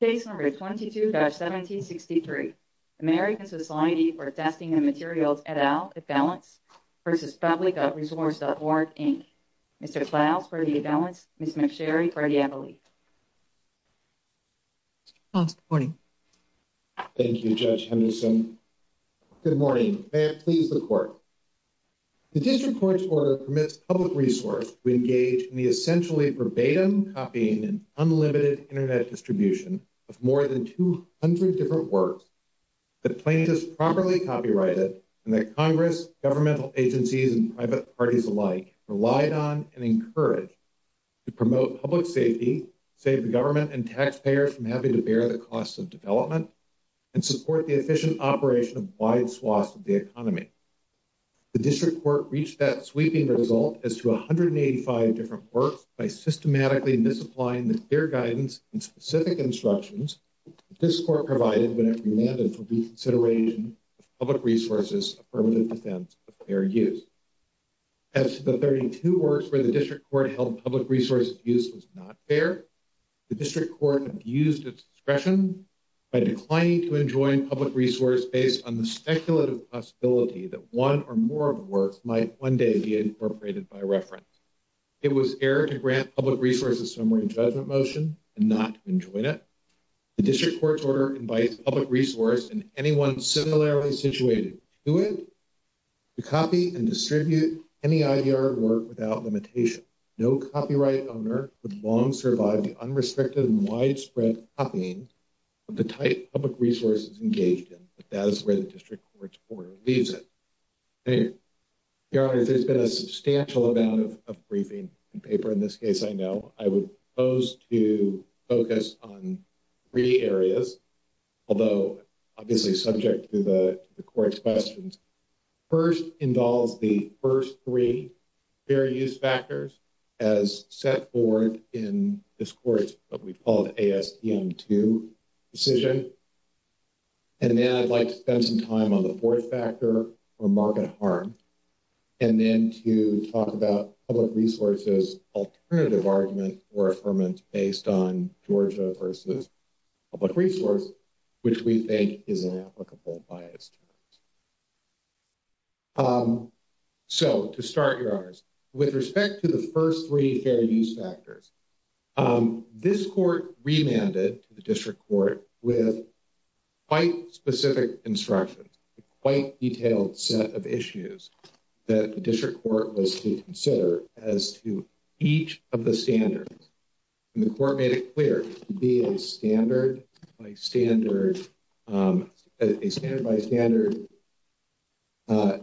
Case number 22-1763, American Society for Testing and Materials et al, Evalance v. Public.Resource.Org, Inc. Mr. Klaus for the Evalance, Ms. McSherry for the Appellee. Mr. Klaus, good morning. Thank you, Judge Henderson. Good morning. May it please the court. The district court's order permits public resource to engage in the essentially verbatim copying and unlimited internet distribution of more than 200 different works that plaintiffs properly copyrighted and that Congress, governmental agencies, and private parties alike relied on and encouraged to promote public safety, save the government and taxpayers from having to bear the costs of development, and support the efficient operation of wide swaths of the economy. The district court reached that sweeping result as to 185 different works by systematically misapplying the clear guidance and specific instructions that this court provided when it demanded for reconsideration of public resources affirmative defense of fair use. As to the 32 works where the district court held public resource abuse was not fair, the district court abused its discretion by declining to enjoin public resource based on the speculative possibility that one or more of the works might one day be incorporated by reference. It was error to grant public resources somewhere in judgment motion and not enjoin it. The district court's order invites public resource and anyone similarly situated to it to copy and distribute any IDR work without limitation. No copyright owner would long survive the unrestricted and widespread copying of the type public resources engaged in, but that is where district court's order leaves it. Your honor, there's been a substantial amount of briefing and paper in this case I know. I would propose to focus on three areas, although obviously subject to the court's questions. First involves the first three fair use factors as set forth in this court's ASTM 2 decision, and then I'd like to spend some time on the fourth factor for market harm, and then to talk about public resources alternative argument or affirmant based on Georgia versus public resource, which we think is inapplicable by its terms. So, to start, your honors, with respect to the first three fair use factors, this court remanded to the district court with quite specific instructions, a quite detailed set of issues that the district court was to consider as to each of the standards, and the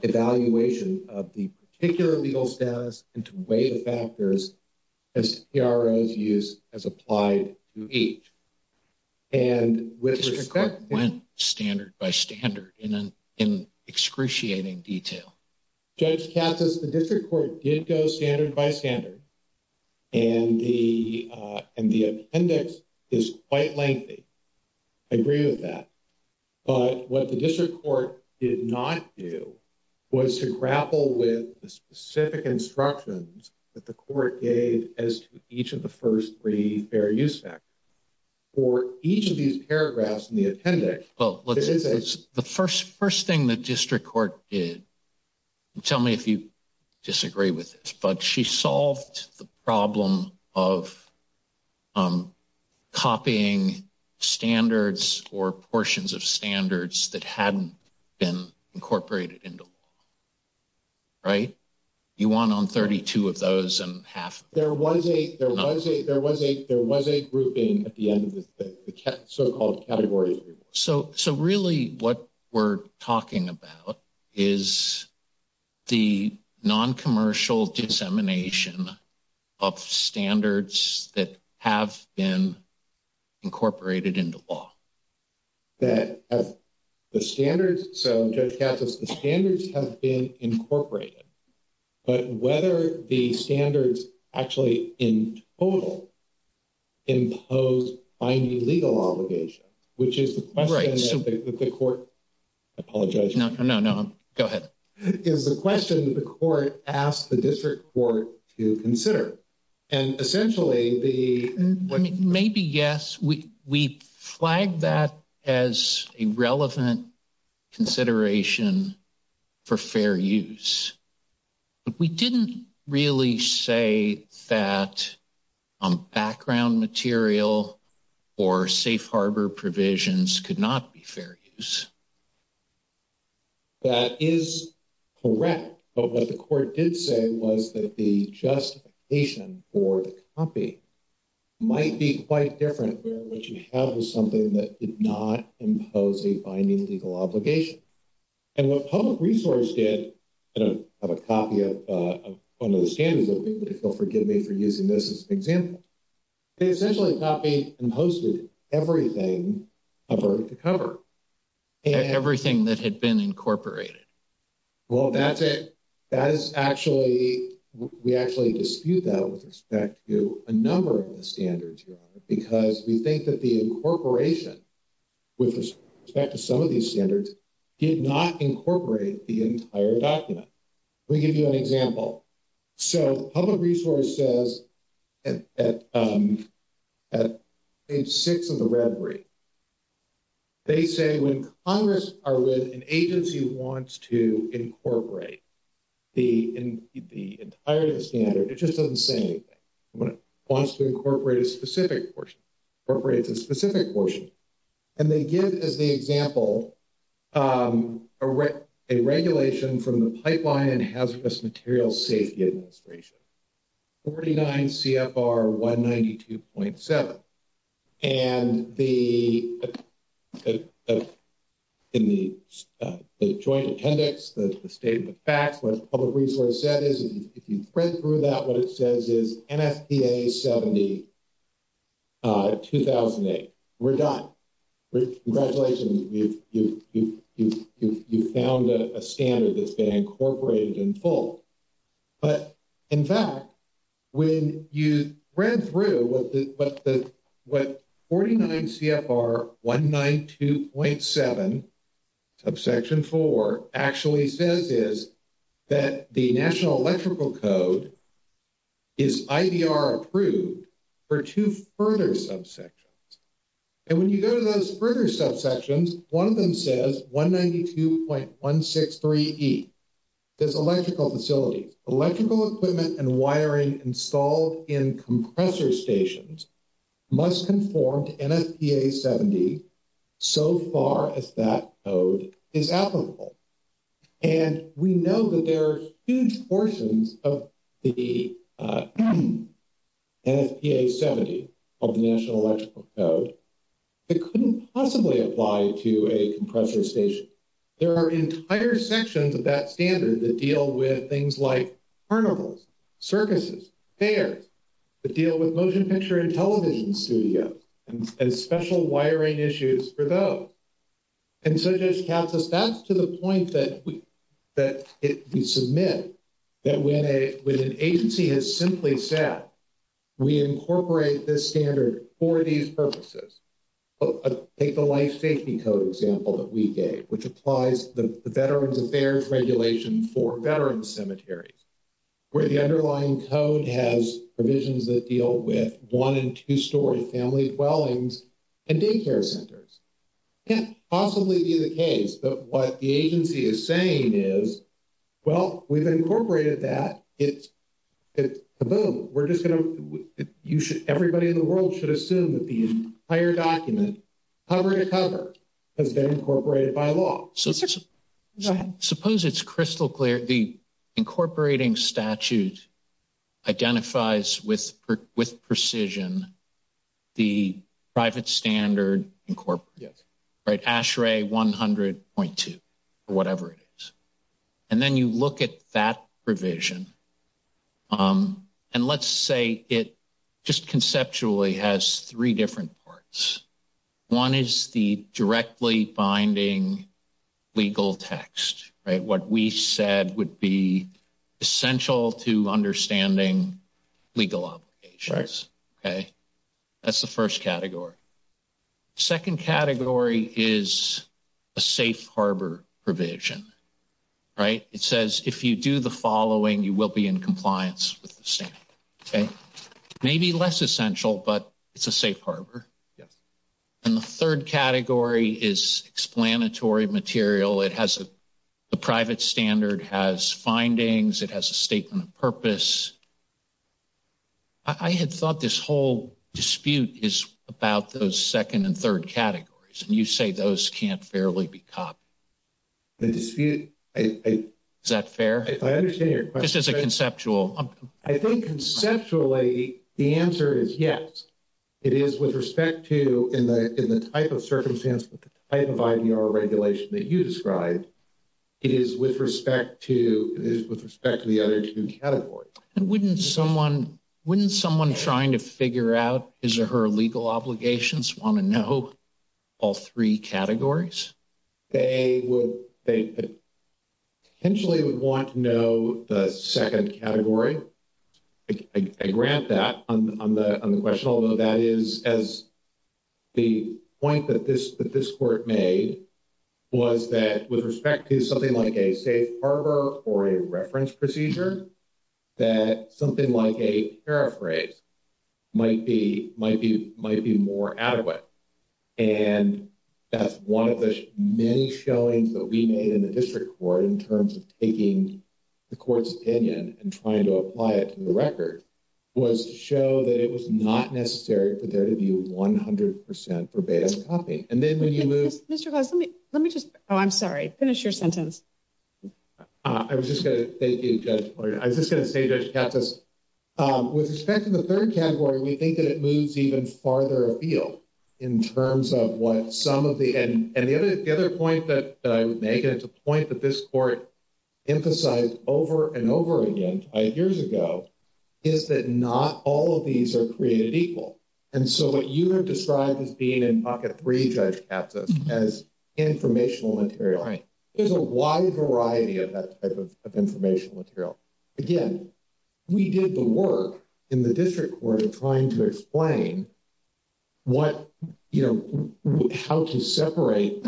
evaluation of the particular legal status and to weigh the factors as CROs use as applied to each. And with respect... The district court went standard by standard in excruciating detail. Judge Katsas, the district court did go standard by standard, and the appendix is quite lengthy. I agree with that. But what the district court did not do was to grapple with the specific instructions that the court gave as to each of the first three fair use factors. For each of these paragraphs in the appendix... Well, the first thing the district court did, tell me if you disagree with this, but she solved the problem of copying standards or portions of standards that hadn't been incorporated into law, right? You want on 32 of those and half... There was a grouping at the end of the so-called category. So really what we're talking about is the non-commercial dissemination of standards that have been incorporated into law. That the standards... So Judge Katsas, the standards have been incorporated, but whether the standards actually in total impose binding legal obligation, which is the question that the court... I apologize. No, no, no. Go ahead. Is the question that the court asked the district court to consider. And essentially the... Maybe yes. We flagged that as a relevant consideration for fair use. But we didn't really say that background material or safe harbor provisions could not be fair use. That is correct. But what the court did say was that the justification for the copy might be quite different where what you have is something that did not impose a binding legal obligation. And what public resource did... I don't have a copy of one of the standards, but if you'll forgive me for using this as an example. They essentially copied and posted everything covered to cover. Everything that had been incorporated. Well, that's it. That is actually... We actually dispute that with respect to a number of the incorporation with respect to some of these standards did not incorporate the entire document. Let me give you an example. So public resource says at page six of the red brief, they say when Congress or with an agency wants to incorporate the entirety of the standard, it just doesn't say anything. When it wants to incorporate a specific portion, incorporates a specific portion. And they give as the example a regulation from the Pipeline and Hazardous Materials Safety Administration, 49 CFR 192.7. And the... In the joint appendix, the statement of facts, what public resource said is if you look at EPA 70 2008, we're done. Congratulations. You've found a standard that's been incorporated in full. But in fact, when you ran through what 49 CFR 192.7 subsection four actually says is that the standards are approved for two further subsections. And when you go to those further subsections, one of them says 192.163E. There's electrical facilities. Electrical equipment and wiring installed in compressor stations must conform to NFPA 70 so far as that code is applicable. And we know that there are huge portions of the NFPA 70 of the National Electrical Code that couldn't possibly apply to a compressor station. There are entire sections of that standard that deal with things like carnivals, circuses, fairs, that deal with motion picture television studios and special wiring issues for those. And so Judge Katsos, that's to the point that we submit that when an agency has simply said, we incorporate this standard for these purposes. Take the life safety code example that we gave, which applies the Veterans Affairs Regulation for veterans cemeteries, where the underlying code has provisions that deal with one and two story family dwellings and daycare centers. Can't possibly be the case, but what the agency is saying is, well, we've incorporated that. It's kaboom. We're just going to, you should, everybody in the world should assume that the entire document, cover to cover, has been incorporated by Go ahead. Suppose it's crystal clear. The incorporating statute identifies with precision the private standard incorporated, ASHRAE 100.2 or whatever it is. And then you look at that provision. And let's say it just conceptually has three different parts. One is the directly binding legal text, right? What we said would be essential to understanding legal obligations, okay? That's the first category. Second category is a safe harbor provision, right? It says if you do the following, you will be in compliance with the standard, okay? Maybe less essential, but it's a safe harbor. Yes. And the third category is explanatory material. It has, the private standard has findings. It has a statement of purpose. I had thought this whole dispute is about those second and third categories. And you say those can't fairly be copied. The dispute, I, is that fair? I understand your question. This is a conceptually, the answer is yes. It is with respect to, in the type of circumstance, with the type of IDR regulation that you described, it is with respect to, it is with respect to the other two categories. And wouldn't someone, wouldn't someone trying to figure out his or her legal obligations want to know all three categories? They would, they potentially would want to know the second category. I grant that on the question, although that is, as the point that this court made was that with respect to something like a safe harbor or a reference procedure, that something like a paraphrase might be, might be, might be more adequate. And that's one of the many showings that we made in the district court in terms of taking the court's opinion and trying to apply it to the record was to show that it was not necessary for there to be 100% verbatim copy. And then when you move. Mr. Klaus, let me, let me just, oh, I'm sorry. Finish your sentence. I was just going to, thank you, Judge Floyd. I was just going to say, Judge Katz, with respect to the third category, we think that it moves even farther afield in terms of what some of the, and the other, the other point that I would make, and it's a point that this court emphasized over and over again, five years ago, is that not all of these are created equal. And so what you have described as being in pocket three, Judge Katz, as informational material, there's a wide variety of that type of information material. Again, we did the work in the district court of trying to explain what, you know, how to separate,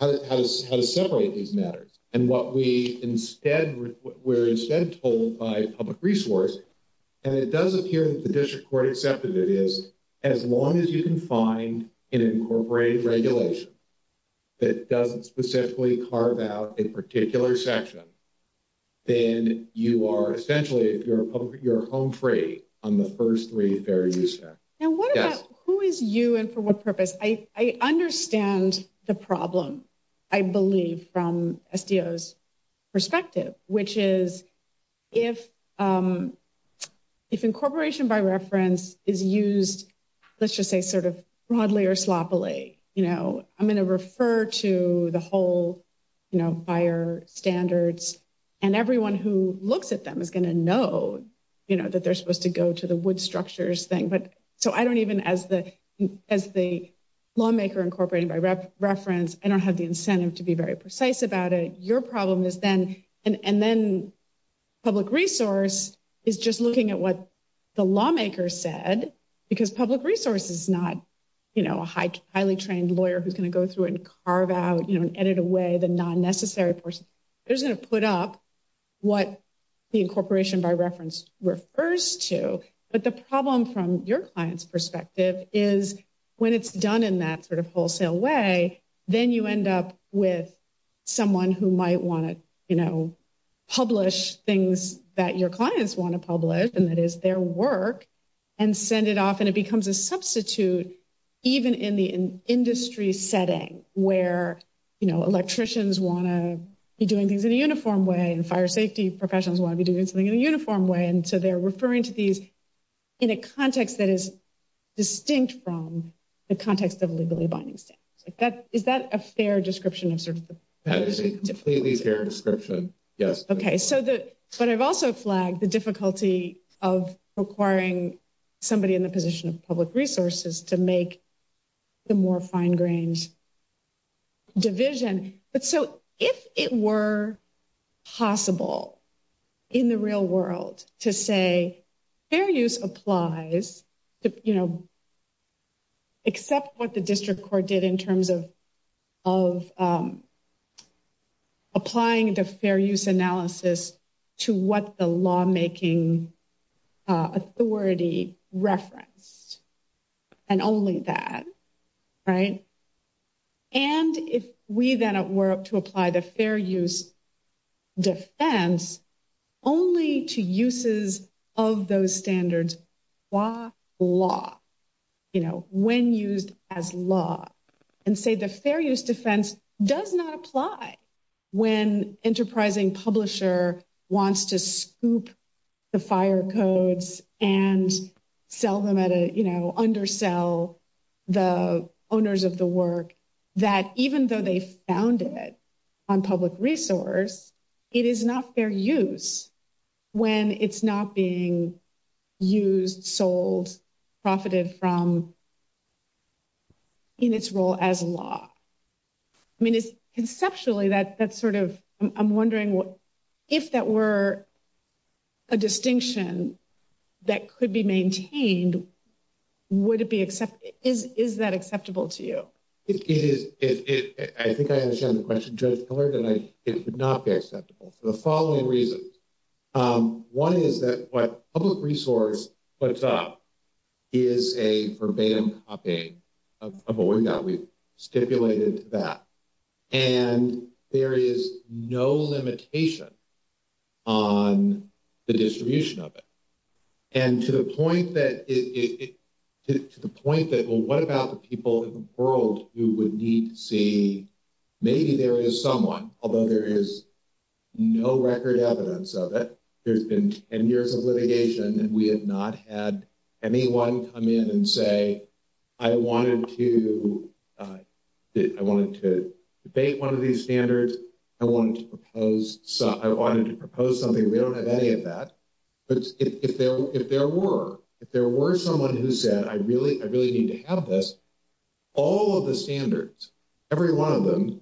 how to separate these matters. And what we instead, we're instead told by public resource, and it does appear that the district court accepted it, is as long as you can find an incorporated regulation that doesn't specifically carve out a particular section, then you are essentially, you're home free on the first three fair use facts. Now what about, who is you and for what purpose? I understand the problem, I believe, from SDO's perspective, which is if incorporation by reference is used, let's just say sort of broadly or sloppily, you know, I'm going to refer to the whole, you know, fire standards, and everyone who looks at them is going to know, you know, that they're supposed to go to the wood structures thing. But so I don't even, as the lawmaker incorporated by reference, I don't have the incentive to be very precise about it. Your problem is then, and then public resource is just looking at what the lawmaker said, because public resource is not, you know, a highly trained lawyer who's going to go through and carve out, you know, and edit away the non-necessary portion. They're just going to put up what the incorporation by reference refers to. But the problem from your client's perspective is when it's done in that sort of wholesale way, then you end up with someone who might want to, you know, publish things that your clients want to publish, and that is their work, and send it off, and it becomes a substitute even in the industry setting where, you know, electricians want to be doing things in a uniform way, and fire safety professionals want to be doing something in a uniform way. And so they're referring to these in a context that is distinct from the context of legally binding standards. Is that a fair description of sort of the... That is a completely fair description, yes. Okay, so the, but I've also flagged the difficulty of requiring somebody in the position of public resources to make the more fine-grained division. But so, if it were possible in the real world to say fair use applies to, you know, except what the district court did in terms of applying the fair use analysis to what the lawmaking authority referenced, and only that, right? And if we then were to apply the fair use defense only to uses of those standards by law, you know, when used as law, and say the fair use defense does not apply when enterprising publisher wants to scoop the fire codes and sell them at a, you know, undersell the owners of the work, that even though they found it on public resource, it is not fair use when it's not being used, sold, profited from in its role as law. I mean, it's conceptually that sort of, I'm wondering what, if that were a distinction that could be maintained, would it be accepted? Is that acceptable to you? It is. I think I understand the question, Judge Miller, that it would not be acceptable for the following reasons. One is that what public resource does not apply to the distribution of the standard. The second is that there is no limitation on the distribution of it. And to the point that it, to the point that, well, what about the people in the world who would need to see, maybe there is someone, although there is no record evidence of it, there's been 10 years of litigation and we have not had anyone come in and say, I wanted to debate one of these standards. I wanted to propose something. We don't have any of that. But if there were, if there were someone who said, I really need to have this, all of the standards, every one of them,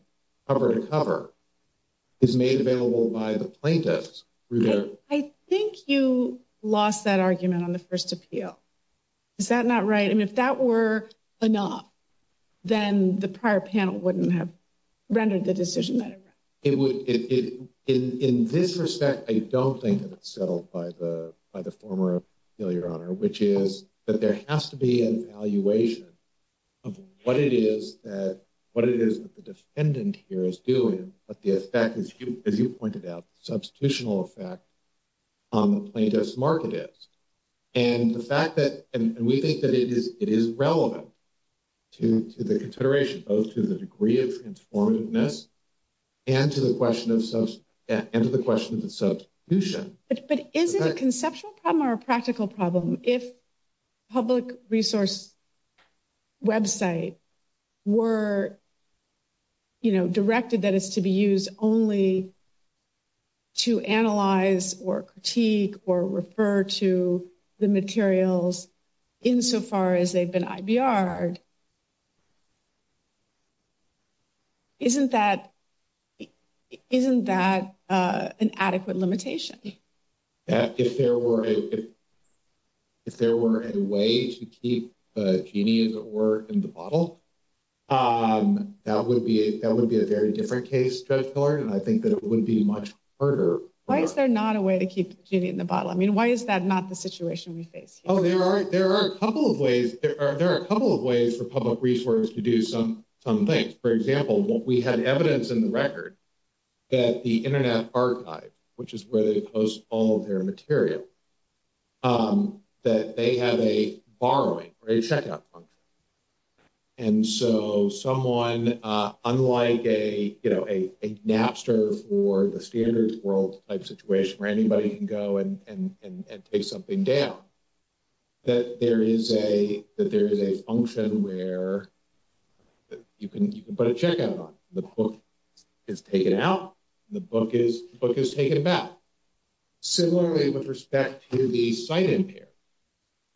cover to cover, is made available by the plaintiffs. I think you lost that argument on the first appeal. Is that not right? I mean, if that were enough, then the prior panel wouldn't have rendered the decision that it would. In this respect, I don't think that it's settled by the former, Your Honor, which is that there has to be an evaluation of what it is that, what it is that the defendant here is doing, but the effect, as you pointed out, the substitutional effect on the plaintiff's market is. And the fact that, and we think that it is relevant to the consideration, both to the degree of transformativeness and to the question of substitution. But is it a conceptual problem or a practical problem if public resource website were, you know, directed that it's to be used only to analyze or critique or refer to the materials insofar as they've been IBR'd, isn't that, isn't that an adequate limitation? If there were a, if there were a way to keep Jeannie, as it were, in the bottle, that would be, that would be a very different case, Judge Miller, and I think that it would be much harder. Why is there not a way to keep Jeannie in the bottle? I mean, why is that not the situation we face? Oh, there are, there are a couple of ways. There are a couple of ways for public resource to do some, some things. For example, what we had evidence in the record that the Internet Archive, which is where they post all of their material, that they have a borrowing or a checkout function. And so someone unlike a, a Napster for the standards world type situation where anybody can go and take something down, that there is a, that there is a function where you can, you can put a checkout on. The book is taken out. The book is, book is taken back. Similarly, with respect to the site in here,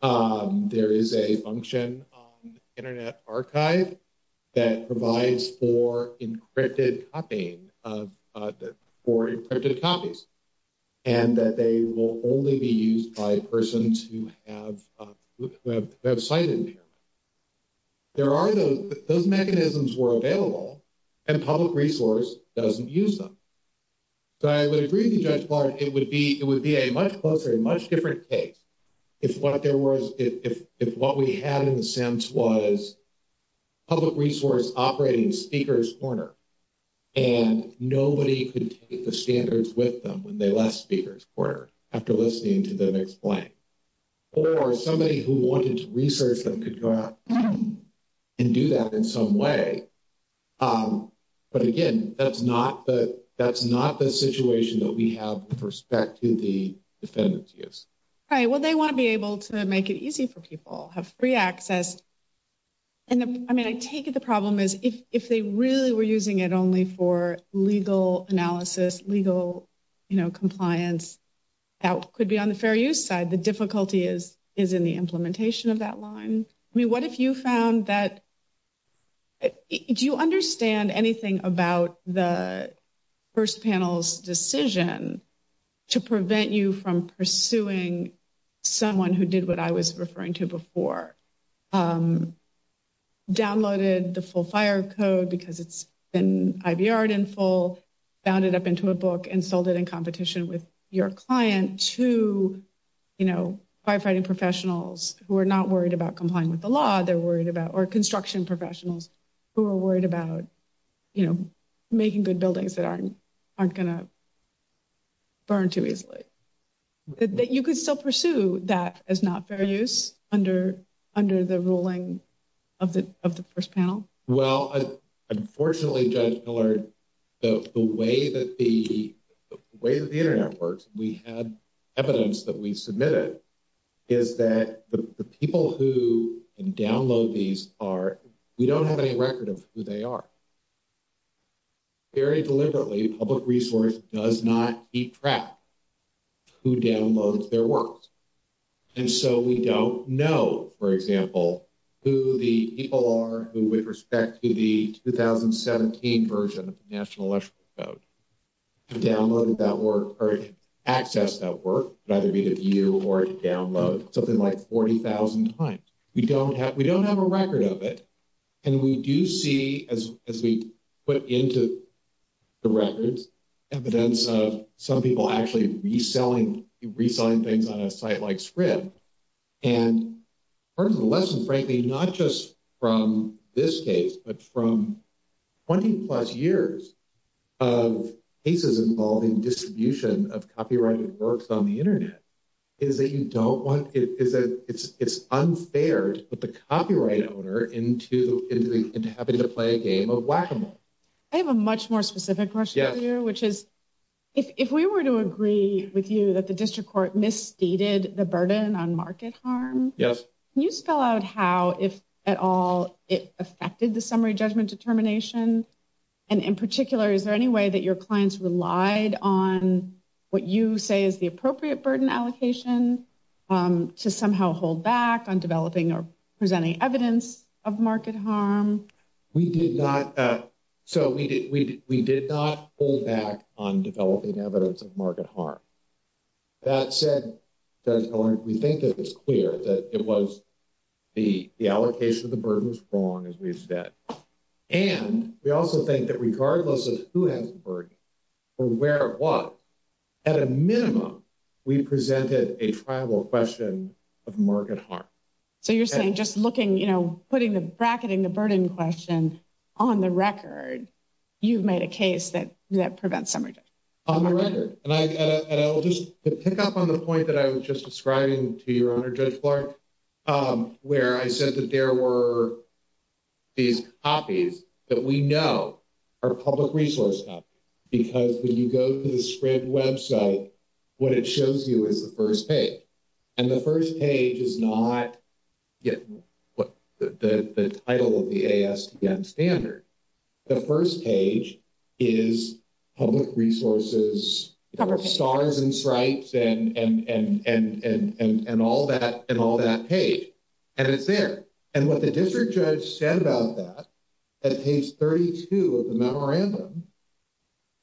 there is a function on the Internet Archive that provides for encrypted copying of, for encrypted copies, and that they will only be used by persons who have, who have, who have site in here. There are those, those mechanisms were available and public resource doesn't use them. So I would agree with you, Judge Clark, it would be, it would be a much closer, a much different case if what there was, if, if, if what we had in the sense was public resource operating speaker's corner and nobody could take the standards with them when they left speaker's corner after listening to them explain. Or somebody who wanted to research them could go out and do that in some way. But again, that's not the, that's not the situation that we have with respect to the defendant's use. Right. Well, they want to be able to make it easy for people, have free access. And I mean, I take it the problem is if, if they really were using it only for legal analysis, legal, you know, compliance, that could be on the fair use side. The difficulty is, is in the implementation of that line. I mean, what if you found that, do you understand anything about the first panel's decision to prevent you from pursuing someone who did what I was referring to before? Downloaded the full fire code because it's been IVR'd in full, bound it up into a book and sold it in competition with your client to, you know, firefighting professionals who are not worried about complying with the law, they're worried about, or construction professionals who are worried about, you know, making good buildings that aren't, aren't going to burn too easily. That you could still pursue that as not fair use under, under the ruling of the, of the first panel? Well, unfortunately, Judge Millard, the way that the, the way that the internet works, we had evidence that we submitted, is that the people who can download these are, we don't have any record of who they are. Very deliberately, public resource does not keep track who downloads their works. And so we don't know, for example, who the people are who with respect to the 2017 version of the National Electrical Code, who downloaded that work, or accessed that work, either via view or download something like 40,000 times. We don't have, we don't have a record of it. And we do see, as, as we put into the records, evidence of some people actually reselling, reselling things on a site like Scribd. And part of the lesson, frankly, not just from this case, but from 20 plus years of cases involving distribution of copyrighted works on the internet, is that you don't want, is that it's, it's unfair to put the copyright owner into, into having to play a game of whack-a-mole. I have a much more specific question for you, which is, if, if we were to agree with you that the district court misstated the burden on market harm, can you spell out how, if at all, it affected the summary judgment determination? And in particular, is there any way that your clients relied on what you say is the appropriate burden allocation to somehow hold back on developing or presenting evidence of market harm? We did not. So we did, we, we did not hold back on developing evidence of market harm. That said, Judge Miller, we think that it's clear that it was the, the allocation of the burden was wrong, as we've said. And we also think that regardless of who has the burden or where it was, at a minimum, we presented a triable question of market harm. So you're saying just looking, you know, putting the, bracketing the burden question on the record, you've made a case that, that prevents summary judgment? On the record. And I, and I'll just pick up on the point that I was just describing to your Honor, Judge Clark, where I said that there were these copies that we know are public resource copies. Because when you go to the Scribd website, what it shows you is the first page. And the first page is not, yeah, what the, the title of the ASTM standard. The first page is public resources, stars and stripes and, and, and, and, and, and all that, and all that page. And it's there. And what the district judge said about that, at page 32 of the memorandum,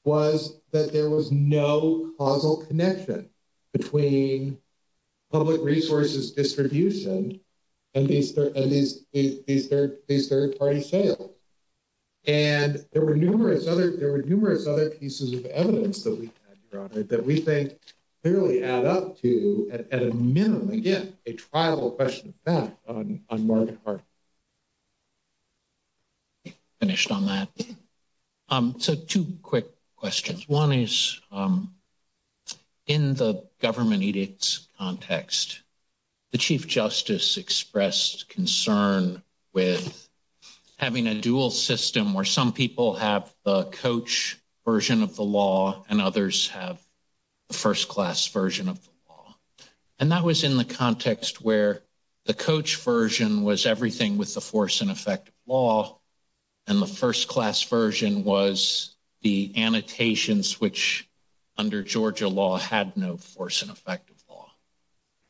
was that there was no causal connection between public resources distribution and these third, and these, these third, these third party sales. And there were numerous other, there were numerous other pieces of evidence that we had, Your Honor, that we think clearly add up to, at a minimum, again, a triable question of fact on, on market harm. I think we're finished on that. So two quick questions. One is, in the government edicts context, the Chief Justice expressed concern with having a dual system where some people have the coach version of the law and others have the first class version of the law. And that was in the context where the coach version was everything with the force and effect of law. And the first class version was the annotations, which under Georgia law had no force and effect of law.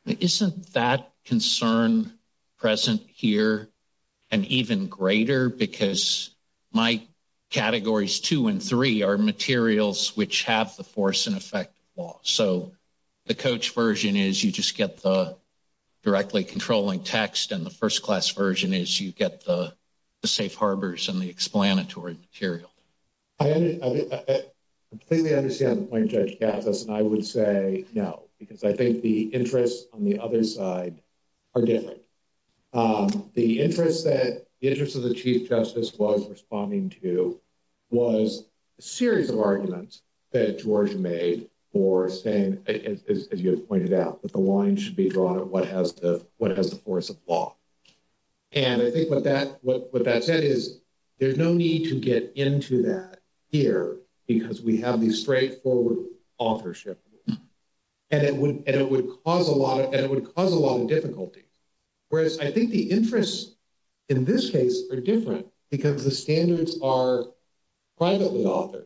Isn't that concern present here and even greater because my coach version is you just get the directly controlling text and the first class version is you get the safe harbors and the explanatory material. I completely understand the point Judge Gatsas and I would say no, because I think the interests on the other side are different. The interest that, the interest of the Chief Justice was responding to was a series of arguments that Georgia made for saying, as you have pointed out, that the line should be drawn at what has the, what has the force of law. And I think what that, what, what that said is there's no need to get into that here because we have these straightforward authorship rules and it would, and it would cause a lot of, and it would cause a lot of difficulties. Whereas I think the interests in this case are different because the standards are privately authored.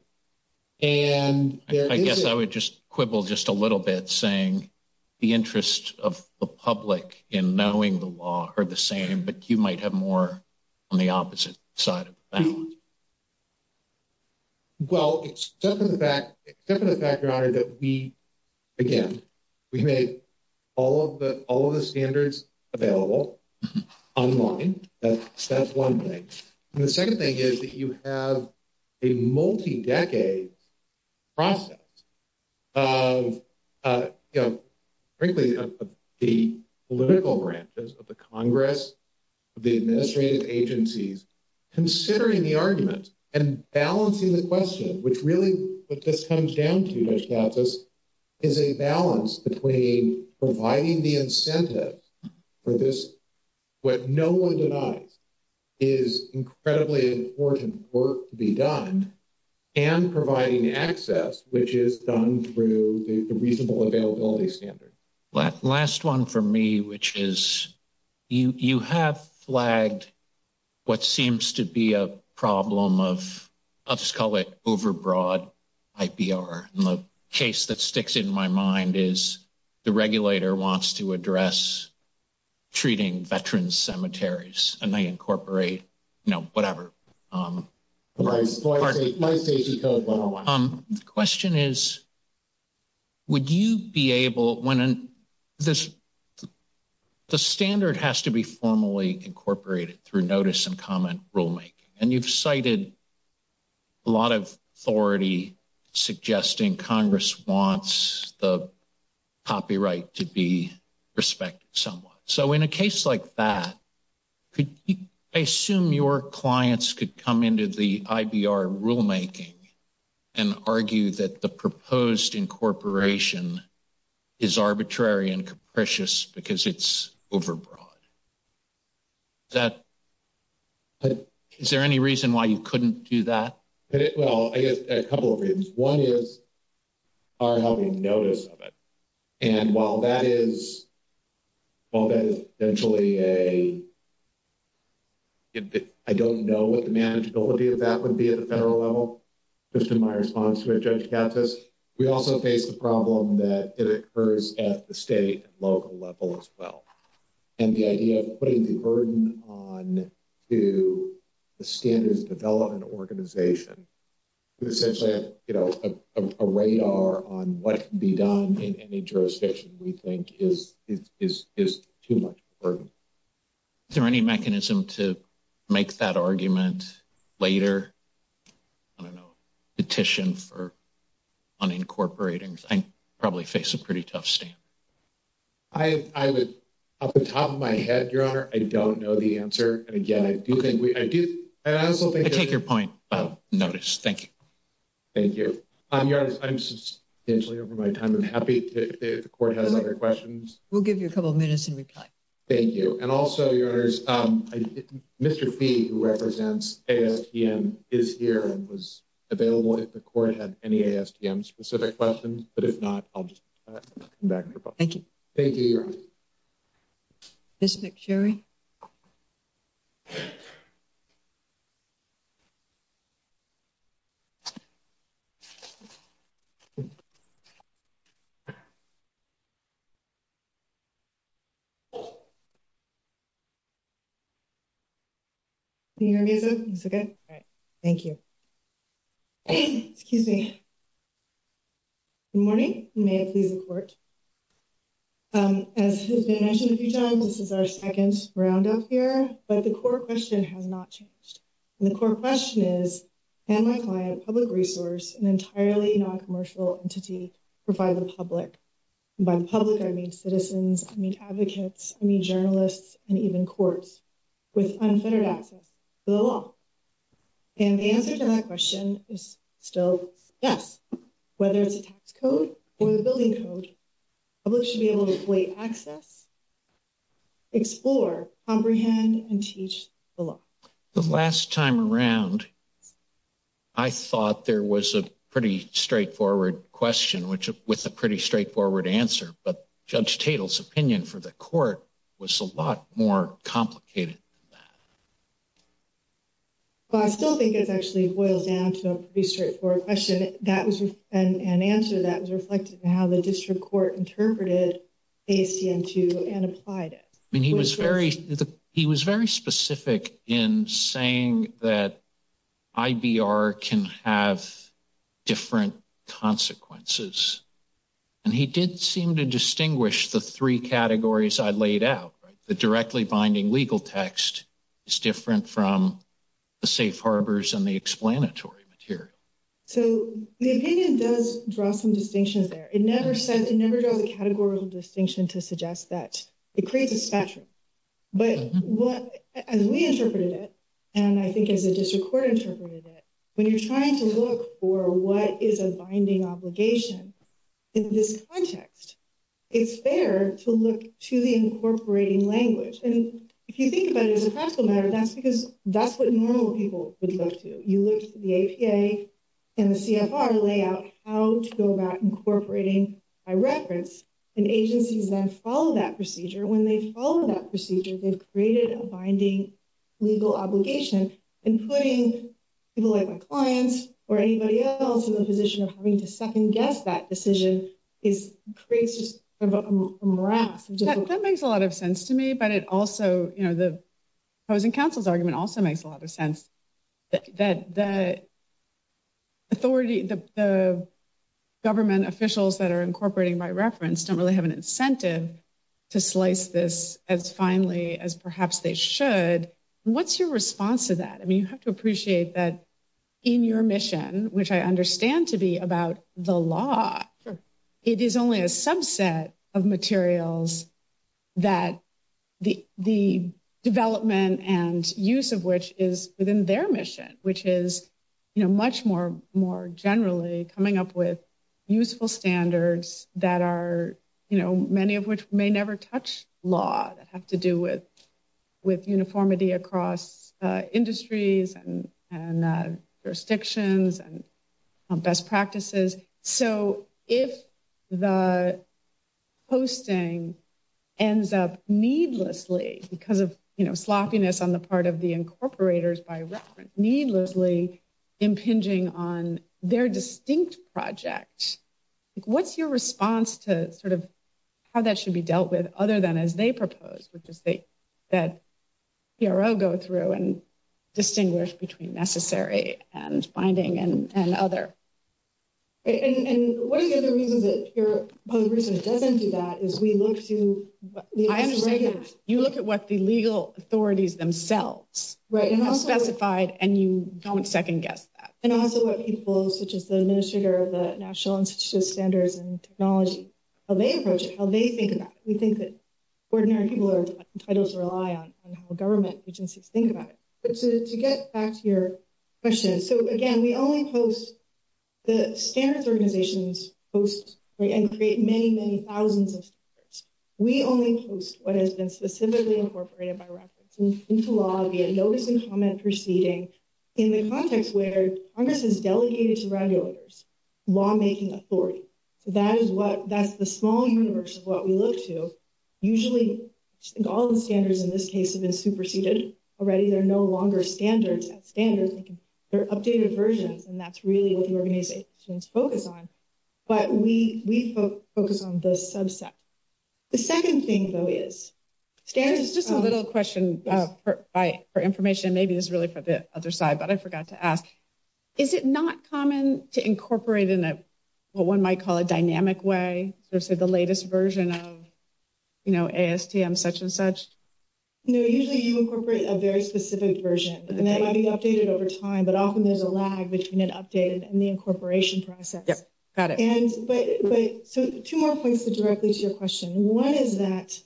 And I guess I would just quibble just a little bit saying the interest of the public in knowing the law are the same, but you might have more on the opposite side of the balance. Well, except for the fact, except for the fact, that we, again, we made all of the, all of the standards available online. That's one thing. And the second thing is that you have a multi-decade process of, you know, frankly, the political branches of the Congress, the administrative agencies, considering the argument and balancing the question, which really what this comes down to, Judge Katsos, is a balance between providing the incentive for this, what no one denies is incredibly important work to be done and providing access, which is done through the reasonable availability standard. Last one for me, which is you have flagged what seems to be a problem of, I'll just call it overbroad IPR. And the case that sticks in my mind is the regulator wants to address treating veterans' cemeteries and they incorporate, you know, whatever. The question is, would you be able, when this, the standard has to be formally incorporated through notice and comment rulemaking. And you've cited a lot of authority suggesting Congress wants the copyright to be respected somewhat. So in a case like that, could you, I assume your clients could come into the IBR rulemaking and argue that the proposed incorporation is arbitrary and capricious because it's overbroad? Is there any reason why you couldn't do that? Well, I guess a couple of reasons. One is our having notice of it. And while that is, while that is essentially a, I don't know what the manageability of that would be at the federal level, just in my response to what Judge Katz has, we also face the problem that it occurs at the state and local level as well. And the idea of putting the burden on to the standards development organization, essentially, you know, a radar on what can be done in any jurisdiction we think is too much of a burden. Is there any mechanism to make that argument later? I don't know, petition for unincorporating? I probably face a pretty tough stand. I would, off the top of my head, Your Honor, I don't know the answer. And again, I do think we, I do, and I also think... I take your point about notice. Thank you. Thank you. Your Honor, I'm substantially over my time. I'm happy if the court has other questions. We'll give you a couple of minutes and reply. Thank you. And also, Your Honor, Mr. Fee, who represents ASTM, is here and was available if the court had any ASTM-specific questions. But if not, I'll just come back and propose. Thank you. Thank you, Your Honor. Thank you. Excuse me. Good morning. May it please the court. As has been mentioned a few times, this is our second round up here. But the court question has not changed. And the court question is, can my client, public resource, an entirely non-commercial entity, provide the public? And by the public, I mean citizens, I mean advocates, I mean journalists, and even courts with unfettered access to the law. And the answer to that question is still yes. Whether it's a tax code or the building code, public should be able to access, explore, comprehend, and teach the law. The last time around, I thought there was a pretty straightforward question with a pretty straightforward answer. But Judge Tatel's opinion for the court was a lot more complicated than that. Well, I still think it actually boils down to a pretty straightforward question and answer that was reflected in how the district court interpreted ACM-2 and applied it. I mean, he was very specific in saying that IBR can have different consequences. And he did seem to distinguish the three categories I laid out. The directly binding legal text is different from the safe harbors and the explanatory material. So the opinion does draw some distinctions there. It never draws a categorical distinction to suggest that it creates a spectrum. But as we interpreted it, and I think as the district court interpreted it, when you're trying to look for what is a binding obligation in this context, it's fair to look to the incorporating language. And if you think about it as a practical matter, that's what normal people would look to. You look to the APA and the CFR to lay out how to go about incorporating by reference. And agencies then follow that procedure. When they follow that procedure, they've created a binding legal obligation. And putting people like my clients or anybody else in the position of having to second guess that decision creates just a morass. That makes a lot of sense to me. But it also, you know, the opposing counsel's argument also makes a lot of sense that the authority, the government officials that are incorporating by reference don't really have an incentive to slice this as finely as perhaps they should. What's your response to that? I mean, you have to appreciate that in your mission, which I understand to be about the law, it is only a subset of materials that the development and use of which is within their mission, which is, you know, much more generally coming up with useful standards that are, you know, many of which may never touch law that have to do with best practices. So if the hosting ends up needlessly because of, you know, sloppiness on the part of the incorporators by reference, needlessly impinging on their distinct project, what's your response to sort of how that should be dealt with other than as they propose, that PRO go through and distinguish between necessary and binding and other. And what are the other reasons that the reason it doesn't do that is we look to... You look at what the legal authorities themselves have specified and you don't second guess that. And also what people such as the administrator of the National Institute of Standards and Titles rely on and how government agencies think about it. But to get back to your question, so again, we only post the standards organizations post and create many, many thousands of standards. We only post what has been specifically incorporated by reference into law via notice and comment proceeding in the context where Congress has delegated to regulators, lawmaking authority. So that's the small universe of what we look to, usually all the standards in this case have been superseded already. They're no longer standards at standards, they're updated versions. And that's really what the organizations focus on, but we focus on the subset. The second thing though is... Stan, just a little question for information. Maybe this is really for the other side, but I forgot to ask, is it not common to incorporate in a, what one might call a dynamic way or say the latest version of, you know, ASTM such and such? No, usually you incorporate a very specific version and that might be updated over time, but often there's a lag between an updated and the incorporation process. Yep, got it. And, but, so two more points directly to your question. One is that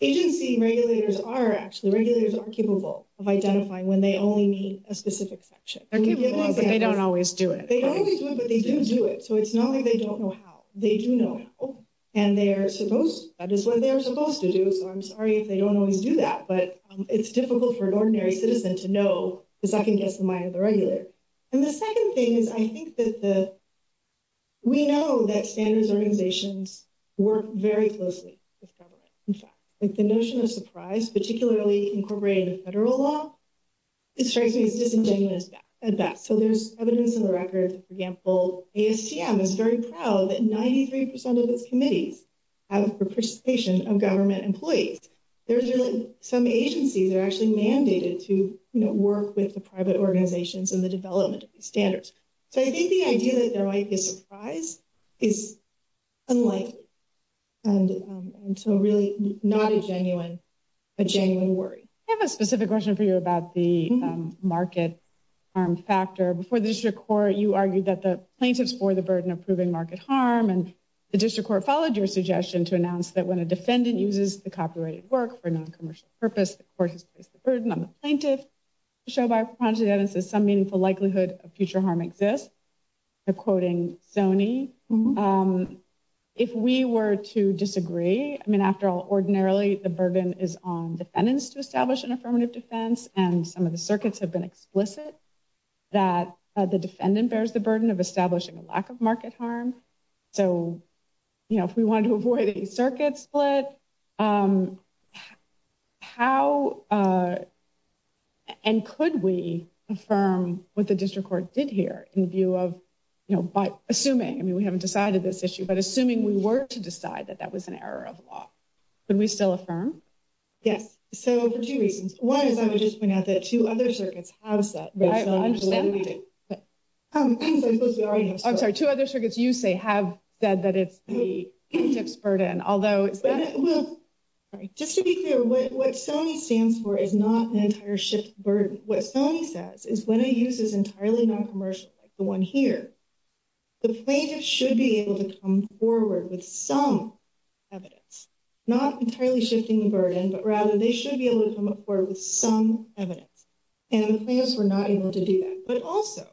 agency regulators are actually, regulators are capable of identifying when they only need a specific section. They're capable, but they don't always do it. They don't always do it, but they do do it. So it's not like they don't know how, they do know how. And they're supposed, that is what they're supposed to do. So I'm sorry if they don't always do that, but it's difficult for an ordinary citizen to know, because I can guess the mind of the regulator. And the second thing is, I think that the, we know that standards organizations work very closely with government. In fact, like the notion of surprise, particularly incorporated in federal law, it strikes me as disingenuous at that. So there's evidence in the for example, ASTM is very proud that 93% of its committees have participation of government employees. There's really some agencies are actually mandated to work with the private organizations in the development of these standards. So I think the idea that there might be a surprise is unlikely. And so really not a genuine, a genuine worry. I have a specific question for you about the market harm factor. Before the district court, you argued that the plaintiffs bore the burden of proving market harm, and the district court followed your suggestion to announce that when a defendant uses the copyrighted work for a non-commercial purpose, the court has placed the burden on the plaintiff. The show by Propaganda says some meaningful likelihood of future harm exists. They're quoting Sony. If we were to disagree, I mean, after all, ordinarily the burden is on defendants to establish an affirmative defense. And some of the circuits have been explicit that the defendant bears the burden of establishing a lack of market harm. So, you know, if we wanted to avoid a circuit split, how and could we affirm what the district court did here in view of, you know, by assuming, I mean, we haven't decided this issue, but assuming we were to decide that that was an error of law, could we still affirm? Yes. So, for two reasons. One is I would just point out that two other circuits have said that. I understand that. I'm sorry, two other circuits you say have said that it's the plaintiff's burden, although is that? Well, just to be clear, what Sony stands for is not an entire shift burden. What Sony says is when a use is entirely non-commercial, like the one here, the plaintiff should be able to come forward with some evidence, not entirely shifting the burden, but rather they should be able to come up forward with some evidence. And the plaintiffs were not able to do that. But also,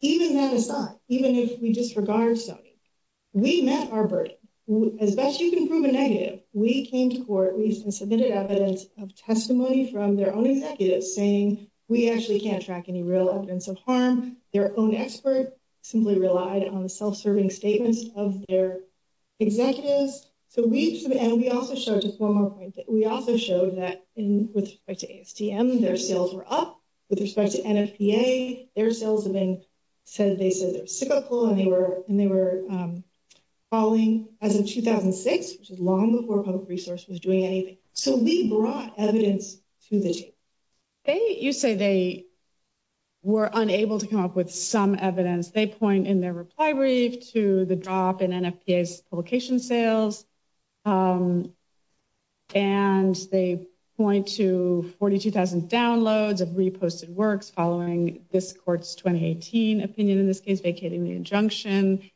even that aside, even if we disregard Sony, we met our burden. As best you can prove a negative, we came to court, we submitted evidence of testimony from their own executives saying we actually can't track any real evidence of harm. Their own expert simply relied on the self-serving statements of their executives. And we also showed, just one more point, that we also showed that with respect to ASTM, their sales were up. With respect to NFPA, their sales have been, they said they're cyclical and they were falling as of 2006, which is long before public resource was doing anything. So we brought evidence to the table. You say they were unable to come up with some evidence. They point in their reply brief to the drop in NFPA's publication sales. And they point to 42,000 downloads of reposted works following this court's 2018 opinion, in this case vacating the injunction.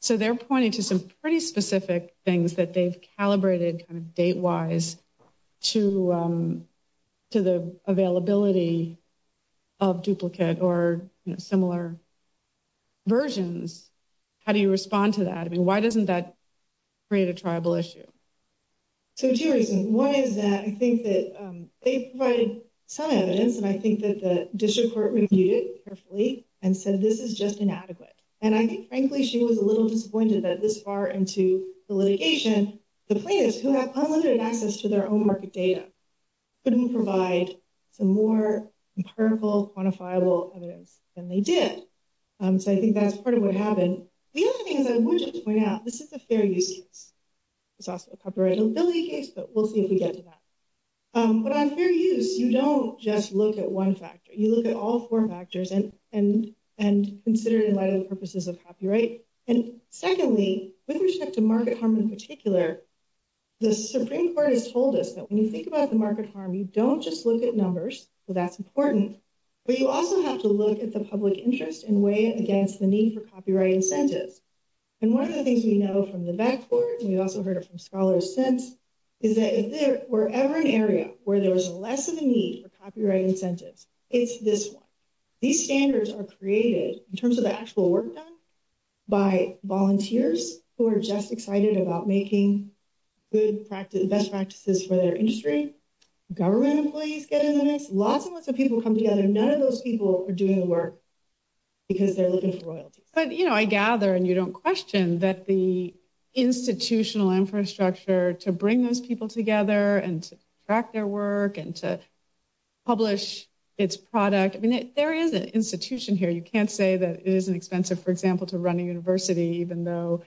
So they're pointing to some pretty specific things that they've calibrated kind of date-wise to the availability of duplicate or similar versions. How do you respond to that? I mean, why doesn't that create a tribal issue? So two reasons. One is that I think that they provided some evidence, and I think that the district court reviewed it carefully and said this is just inadequate. And I think frankly, she was a little disappointed that this far into the litigation, the plaintiffs who have unlimited access to their own market data, couldn't provide some more empirical, quantifiable evidence than they did. So I think that's part of what happened. The other thing is, I would just point out, this is a fair use case. It's also a copyright availability case, but we'll see if we get to that. But on fair use, you don't just look at one factor. You look at all four factors and consider the purposes of copyright. And secondly, with respect to market harm in particular, the Supreme Court has told us that when you think about the market harm, you don't just look at numbers. So that's important. But you also have to look at the public interest and weigh it against the need for copyright incentives. And one of the things we know from the back court, and we've also heard it from scholars since, is that if there were ever an area where there was less of a need for copyright incentives, it's this one. These standards are created in terms of the actual work done by volunteers who are just excited about making best practices for their industry. Government employees get in the mix. Lots and lots of people come together. None of those people are doing the work because they're looking for royalties. But I gather, and you don't question, that the institutional infrastructure to bring those together and to track their work and to publish its product, I mean, there is an institution here. You can't say that it isn't expensive, for example, to run a university even though,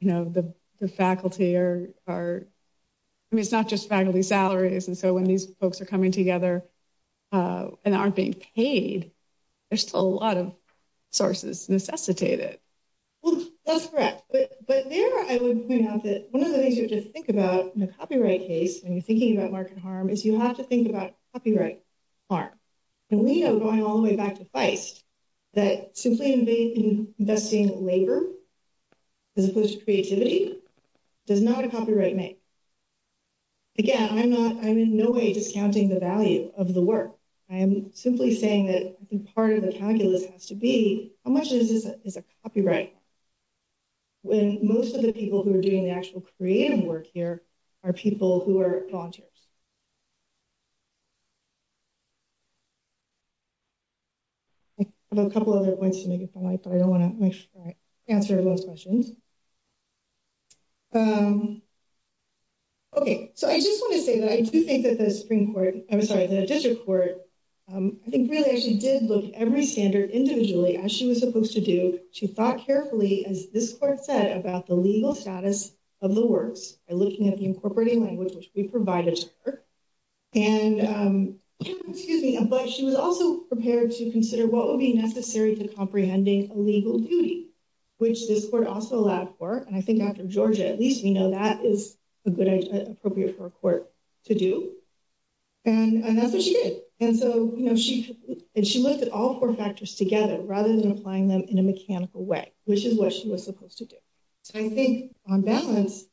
you know, the faculty are, I mean, it's not just faculty salaries. And so when these folks are coming together and aren't being paid, there's still a lot of sources necessitated. Well, that's correct. But there I would point out that one of the things you have to think about in a copyright case, when you're thinking about market harm, is you have to think about copyright harm. And we know, going all the way back to Feist, that simply investing labor as opposed to creativity does not a copyright make. Again, I'm in no way discounting the value of the work. I am simply saying that I think part of the calculus has to be, how much is a copyright when most of the people who are doing the actual creative work here are people who are volunteers? I have a couple other points to make if I might, but I don't want to answer those questions. Okay, so I just want to say that I do think that the Supreme Court, I'm sorry, the District Court, I think really actually did look at every standard individually as she was supposed to do. She thought carefully, as this court said, about the legal status of the works by looking at the incorporating language which we provided to her. And, excuse me, but she was also prepared to consider what would be necessary to comprehending a legal duty, which this court also alluded to. And I think after Georgia, at least we know that is a good idea, appropriate for a court to do. And that's what she did. And so, you know, and she looked at all four factors together, rather than applying them in a mechanical way, which is what she was supposed to do. So I think on balance,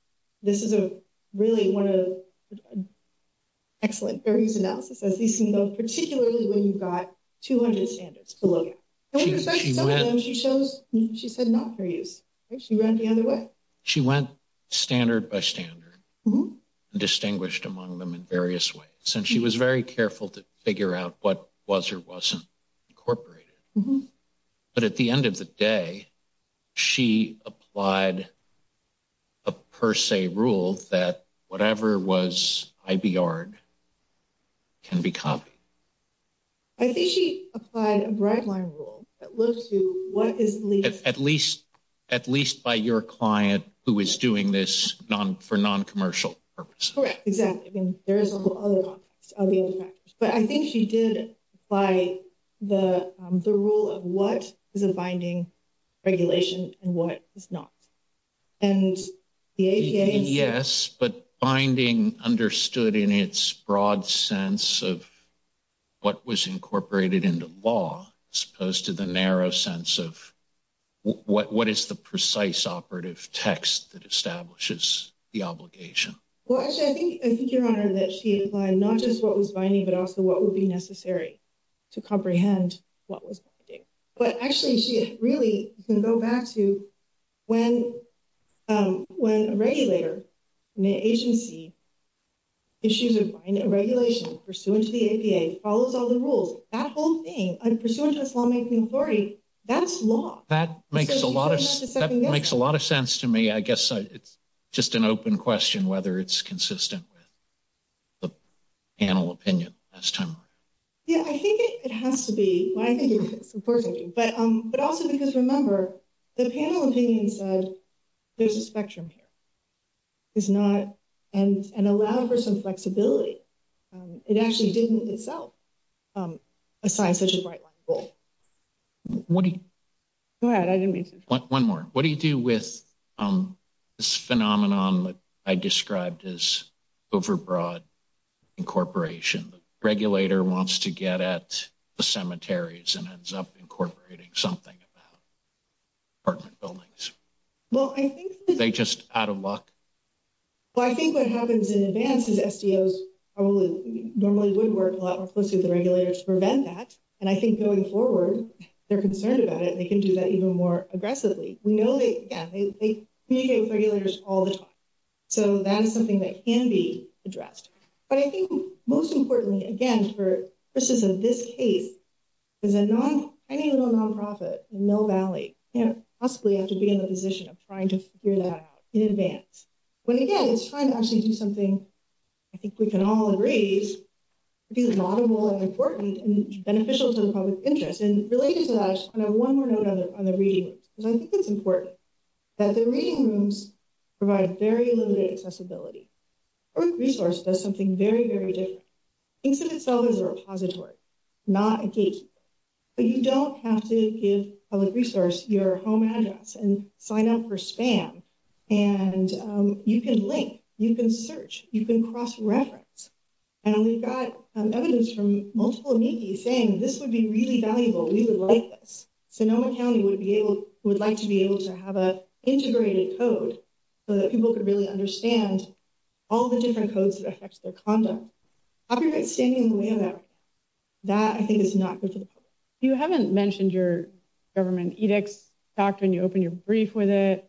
this is a really one of excellent fair use analysis, as we've seen, though, particularly when you've got 200 standards below you. She said not fair use. She ran the other way. She went standard by standard, distinguished among them in various ways. And she was very careful to figure out what was or wasn't incorporated. But at the end of the day, she applied a per se rule that whatever was IBR can be copied. I think she applied a bright line rule that looks to what is legal. At least by your client who is doing this for non-commercial purposes. Correct. Exactly. I mean, there is a whole other context of the other factors. But I think she did apply the rule of what is a binding regulation and what is not. And the APA. Yes, but binding understood in its broad sense of what was incorporated into law, as opposed to the narrow sense of what is the precise operative text that establishes the obligation. Well, actually, I think your honor that she applied not just what was binding, but also what would be necessary to comprehend what was binding. But actually, she really can go back to when a regulator in the agency issues a regulation pursuant to the APA, follows all the rules, that whole thing, pursuant to its lawmaking authority, that's law. That makes a lot of sense to me. I guess it's just an open question whether it's consistent with the panel opinion. Yeah, I think it has to be. But also, because remember, the panel opinion said there's a spectrum here. And allow for some flexibility. It actually didn't itself assign such a bright line goal. What do you... Go ahead. I didn't mean to... One more. What do you do with this phenomenon that I described as overbroad incorporation? The regulator wants to get at the cemeteries and ends up incorporating something about apartment buildings. Well, I think... They just out of luck? Well, I think what happens in advance is SDOs probably normally would work a lot more closely with the regulators to prevent that. And I think going forward, they're concerned about it. They can do that even more aggressively. We know that, yeah, they communicate with regulators all the time. So that is something that can be addressed. But I think most importantly, again, for purposes of this case, is a non... Any little nonprofit in Mill Valley can't possibly have been in the position of trying to figure that out in advance. But again, it's trying to actually do something I think we can all agree is a lot of more important and beneficial to the public interest. And related to that, I just want to have one more note on the reading rooms. Because I think it's important that the reading rooms provide very limited accessibility. Public resource does something very, very different. It's in itself a repository, not a gate. But you don't have to give public resource your home address and sign up for spam. And you can link, you can search, you can cross-reference. And we've got evidence from multiple amici saying this would be really valuable. We would like this. Sonoma County would like to be able to have an integrated code so that people could really understand all the different codes that affect their conduct. Copyright standing in the way of that, that I think is not good for the public. You haven't mentioned your government edicts doctrine. You opened your brief with it.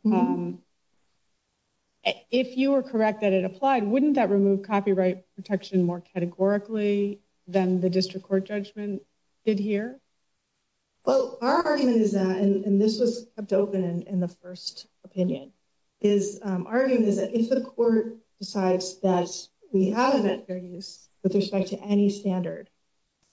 If you were correct that it applied, wouldn't that remove copyright protection more categorically than the district court judgment did here? Well, our argument is that, and this was kept open in the first opinion, is our argument is that if the court decides that we have event fair use with respect to any standard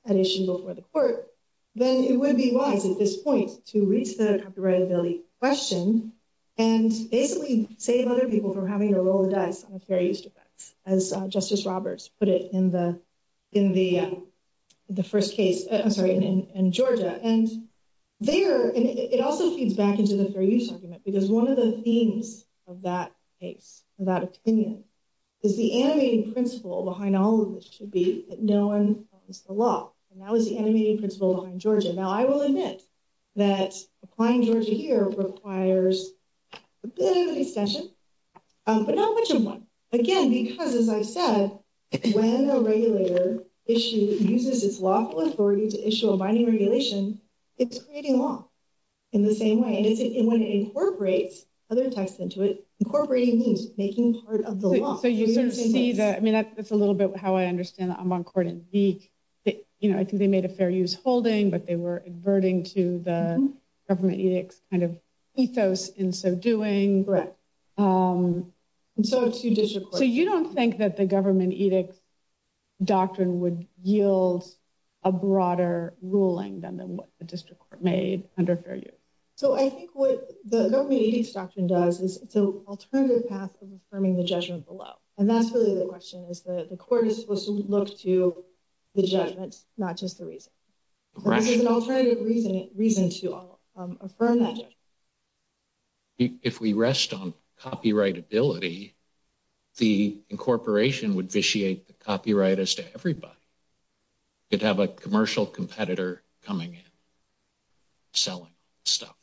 at issue before the court, then it would be wise at this point to reach the copyrightability question and basically save other people from having to roll the dice on a fair use defense, as Justice Roberts put it in the first case, I'm sorry, in Georgia. And there, and it also feeds back into the fair use argument, because one of the themes of that case, of that opinion, is the animating principle behind all of this should be that no one owns the law. And that was the animating principle behind Georgia. Now I will admit that applying Georgia here requires a bit of an extension, but not much of one. Again, because as I said, when a regulator uses its lawful authority to issue a binding regulation, it's creating law in the same way. And when it incorporates other texts into it, incorporating making part of the law. So you sort of see that, I mean, that's a little bit how I understand that I'm on court in beak that, you know, I think they made a fair use holding, but they were adverting to the government edicts kind of ethos in so doing. So you don't think that the government edicts doctrine would yield a broader ruling than what the district court made under fair use? So I think what the government edicts doctrine does is it's an alternative path of affirming the judgment below. And that's really the question is the court is supposed to look to the judgment, not just the reason. This is an alternative reason to affirm that judgment. If we rest on copyrightability, the incorporation would vitiate the copyright as to everybody. It'd have a commercial competitor coming in, selling stuff.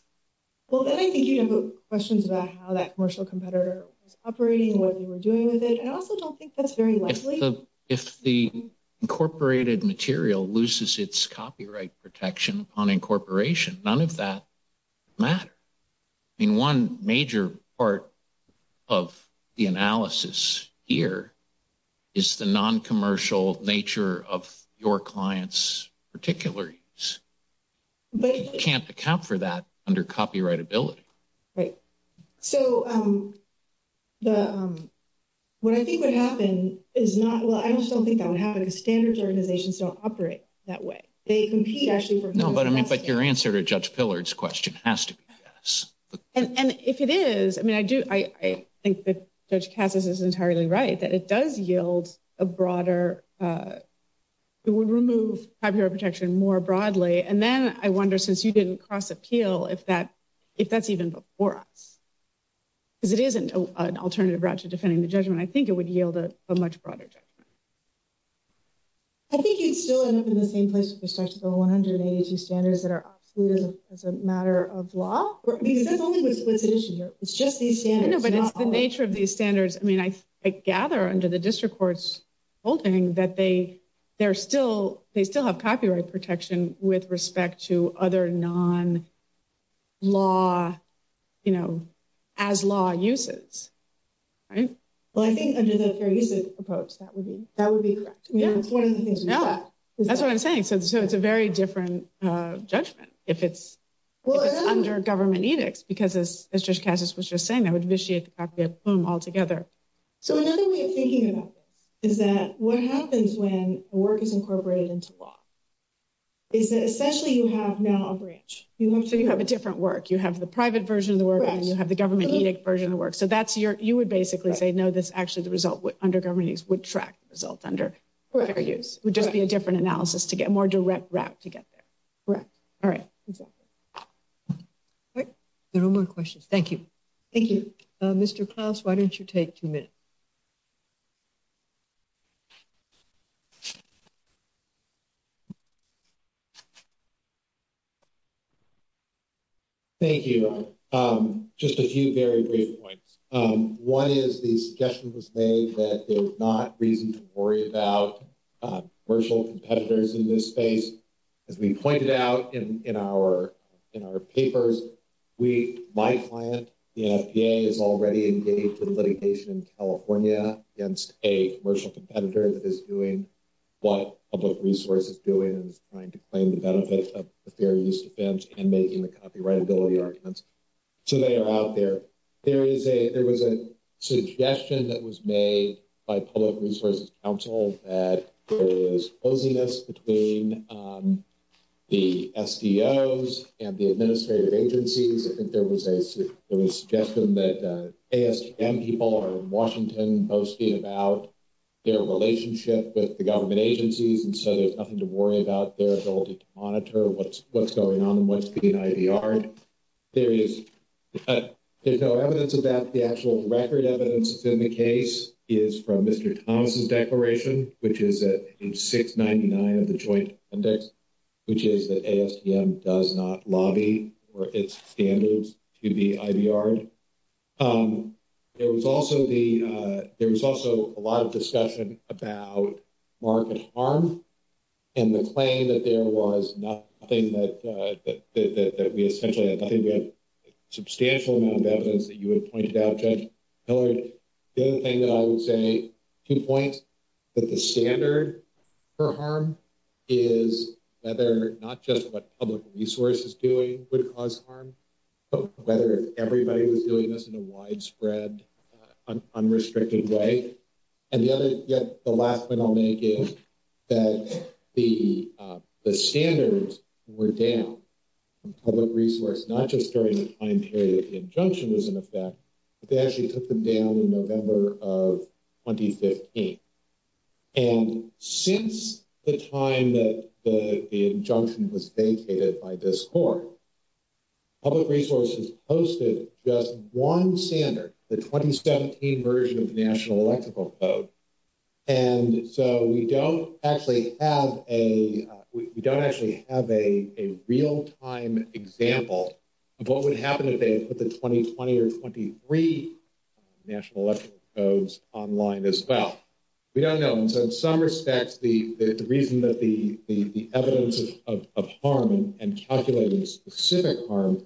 Well, then I think you have questions about how that commercial competitor was operating, what they were doing with it. And I also don't think that's very likely. If the incorporated material loses its copyright protection on incorporation, none of that matter. I mean, one major part of the analysis here is the non-commercial nature of your client's particular use. You can't account for that under copyrightability. Right. So what I think would happen is not, well, I just don't think that would happen because standards organizations don't operate that way. They compete actually for No, but I mean, but your answer to Judge Pillard's question has to be yes. And if it is, I mean, I think that Judge Cassis is entirely right, that it does yield a broader, it would remove copyright protection more broadly. And then I wonder, since you didn't cross appeal, if that's even before us, because it isn't an alternative route to defending the judgment, I think it would yield a much broader judgment. I think you'd still end up in the same place with respect to the 182 standards that are absolute as a matter of law, because that's what's at issue here. It's just these standards. No, but it's the nature of these standards. I mean, I gather under the district court's holding that they still have copyright protection with respect to other non-law, you know, as law uses. Right. Well, I think under the fair use approach, that would be correct. That's what I'm saying. So it's a very different judgment if it's under government edicts, because as Judge Cassis was just saying, that would vitiate the copyright boom altogether. So another way of thinking about this is that what happens when a work is incorporated into law is that essentially you have now a branch. So you have a different work. You have the private version of the work and you have the government edict version of the work. So that's your, you would basically say, no, this actually, the result under government edicts would track the result under fair use. It would just be a different analysis to get a more direct route to get there. Correct. All right. Exactly. All right. There are no more questions. Thank you. Thank you. Mr. Klaus, why don't you take two minutes? Thank you. Just a few very brief points. One is the suggestion was made that there's not reason to worry about commercial competitors in this space. As we pointed out in our papers, we, my client, the NFPA, is already engaged in litigation in California against a commercial competitor that is doing what public resource is doing and is trying to claim the benefit of the fair use defense and making the copyrightability arguments. So they are out there. There is a, there was a suggestion that was made by public resources council that there is closeness between the SDOs and the administrative agencies. I think there was a, there was a suggestion that ASTM people are in Washington posting about their relationship with the government agencies. And so there's nothing to worry about their ability to monitor what's, what's going on and what's being IVRed. There is, there's no evidence of that. The actual record evidence that's in the case is from Mr. Thomas's declaration, which is at page 699 of the joint index, which is that ASTM does not lobby or its standards to be IVRed. There was also the, there was also a lot of discussion about market harm and the claim that there was nothing that that we essentially had nothing. We have substantial amount of evidence that you had pointed out, Judge Hillard. The other thing that I would say to point that the standard for harm is whether not just what public resource is doing would cause harm, but whether everybody was doing this in a widespread unrestricted way. And the other, yet the last point I'll make is that the standards were down from public resource, not just during the time period that the injunction was in effect, but they actually took them down in November of 2015. And since the time that the injunction was vacated by this court, public resources posted just one standard, the 2017 version of the National Electrical Code. And so we don't actually have a, we don't actually have a real time example of what would happen if they put the 2020 or 23 National Electrical Codes online as well. We don't know. And so in some respects, the reason that the evidence of harm and calculating specific harm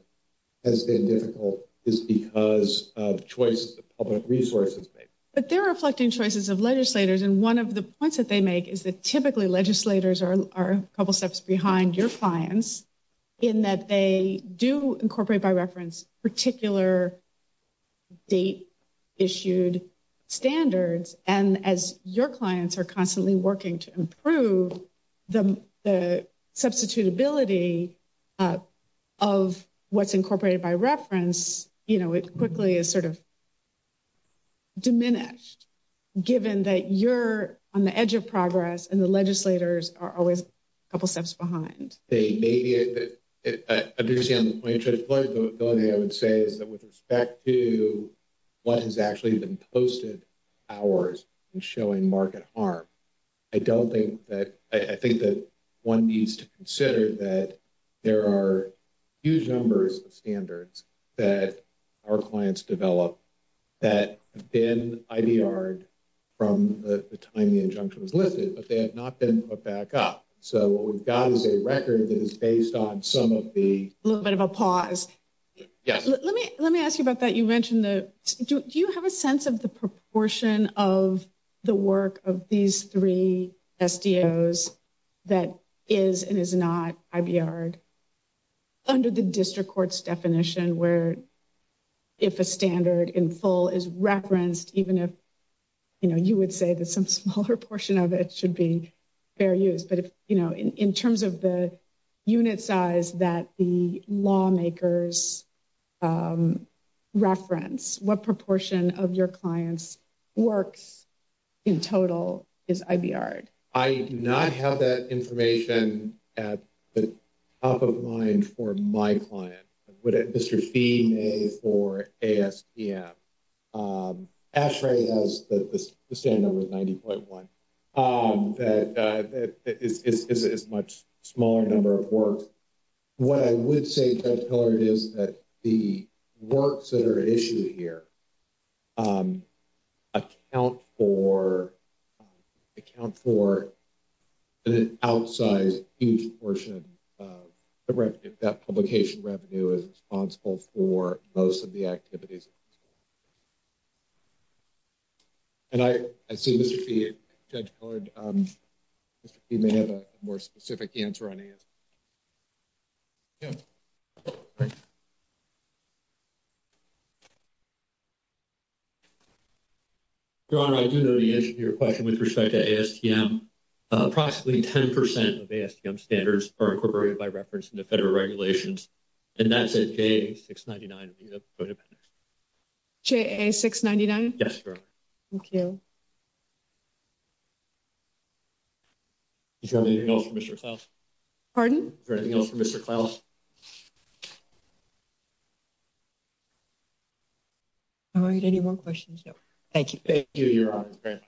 has been difficult is because of choices of public resources. But they're reflecting choices of legislators. And one of the points that they make is that typically legislators are a couple of steps behind your clients in that they do incorporate by reference particular date issued standards. And as your working to improve the substitutability of what's incorporated by reference, you know, it quickly is sort of diminished, given that you're on the edge of progress and the legislators are always a couple of steps behind. The only thing I would say is that with respect to what has actually been posted hours in showing market harm, I don't think that, I think that one needs to consider that there are huge numbers of standards that our clients develop that have been IDR'd from the time the injunction was lifted, but they have not been put back up. So what we've got is a record that is based on some of the... A little bit of a pause. Yes. Let me ask you about that. You mentioned the... Do you have a sense of the proportion of the work of these three SDOs that is and is not IDR'd under the district court's definition where if a standard in full is referenced, even if, you know, you would say that some smaller portion of it should be fair use, but if, you know, in terms of the unit size that the lawmakers reference, what proportion of your clients works in total is IDR'd? I do not have that information at the top of mind for my client. Mr. Fee may for ASTM. ASHRAE has the standard with 90.1. That is a much smaller number of work. What I would say, Judge Pillard, is that the works that are issued here account for an outsized huge portion of that publication revenue is responsible for most of the activities. And I see Mr. Fee, Judge Pillard, Mr. Fee may have a more specific answer on ASTM. Yeah. Your Honor, I do know the answer to your question with respect to ASTM. Approximately 10% of ASTM standards are incorporated by reference into federal regulations and that's at J.A. 699. J.A. 699. Yes, Your Honor. Thank you. Is there anything else for Mr. Klaus? Pardon? Is there anything else for Mr. Klaus? All right. Any more questions? No. Thank you. Thank you, Your Honor.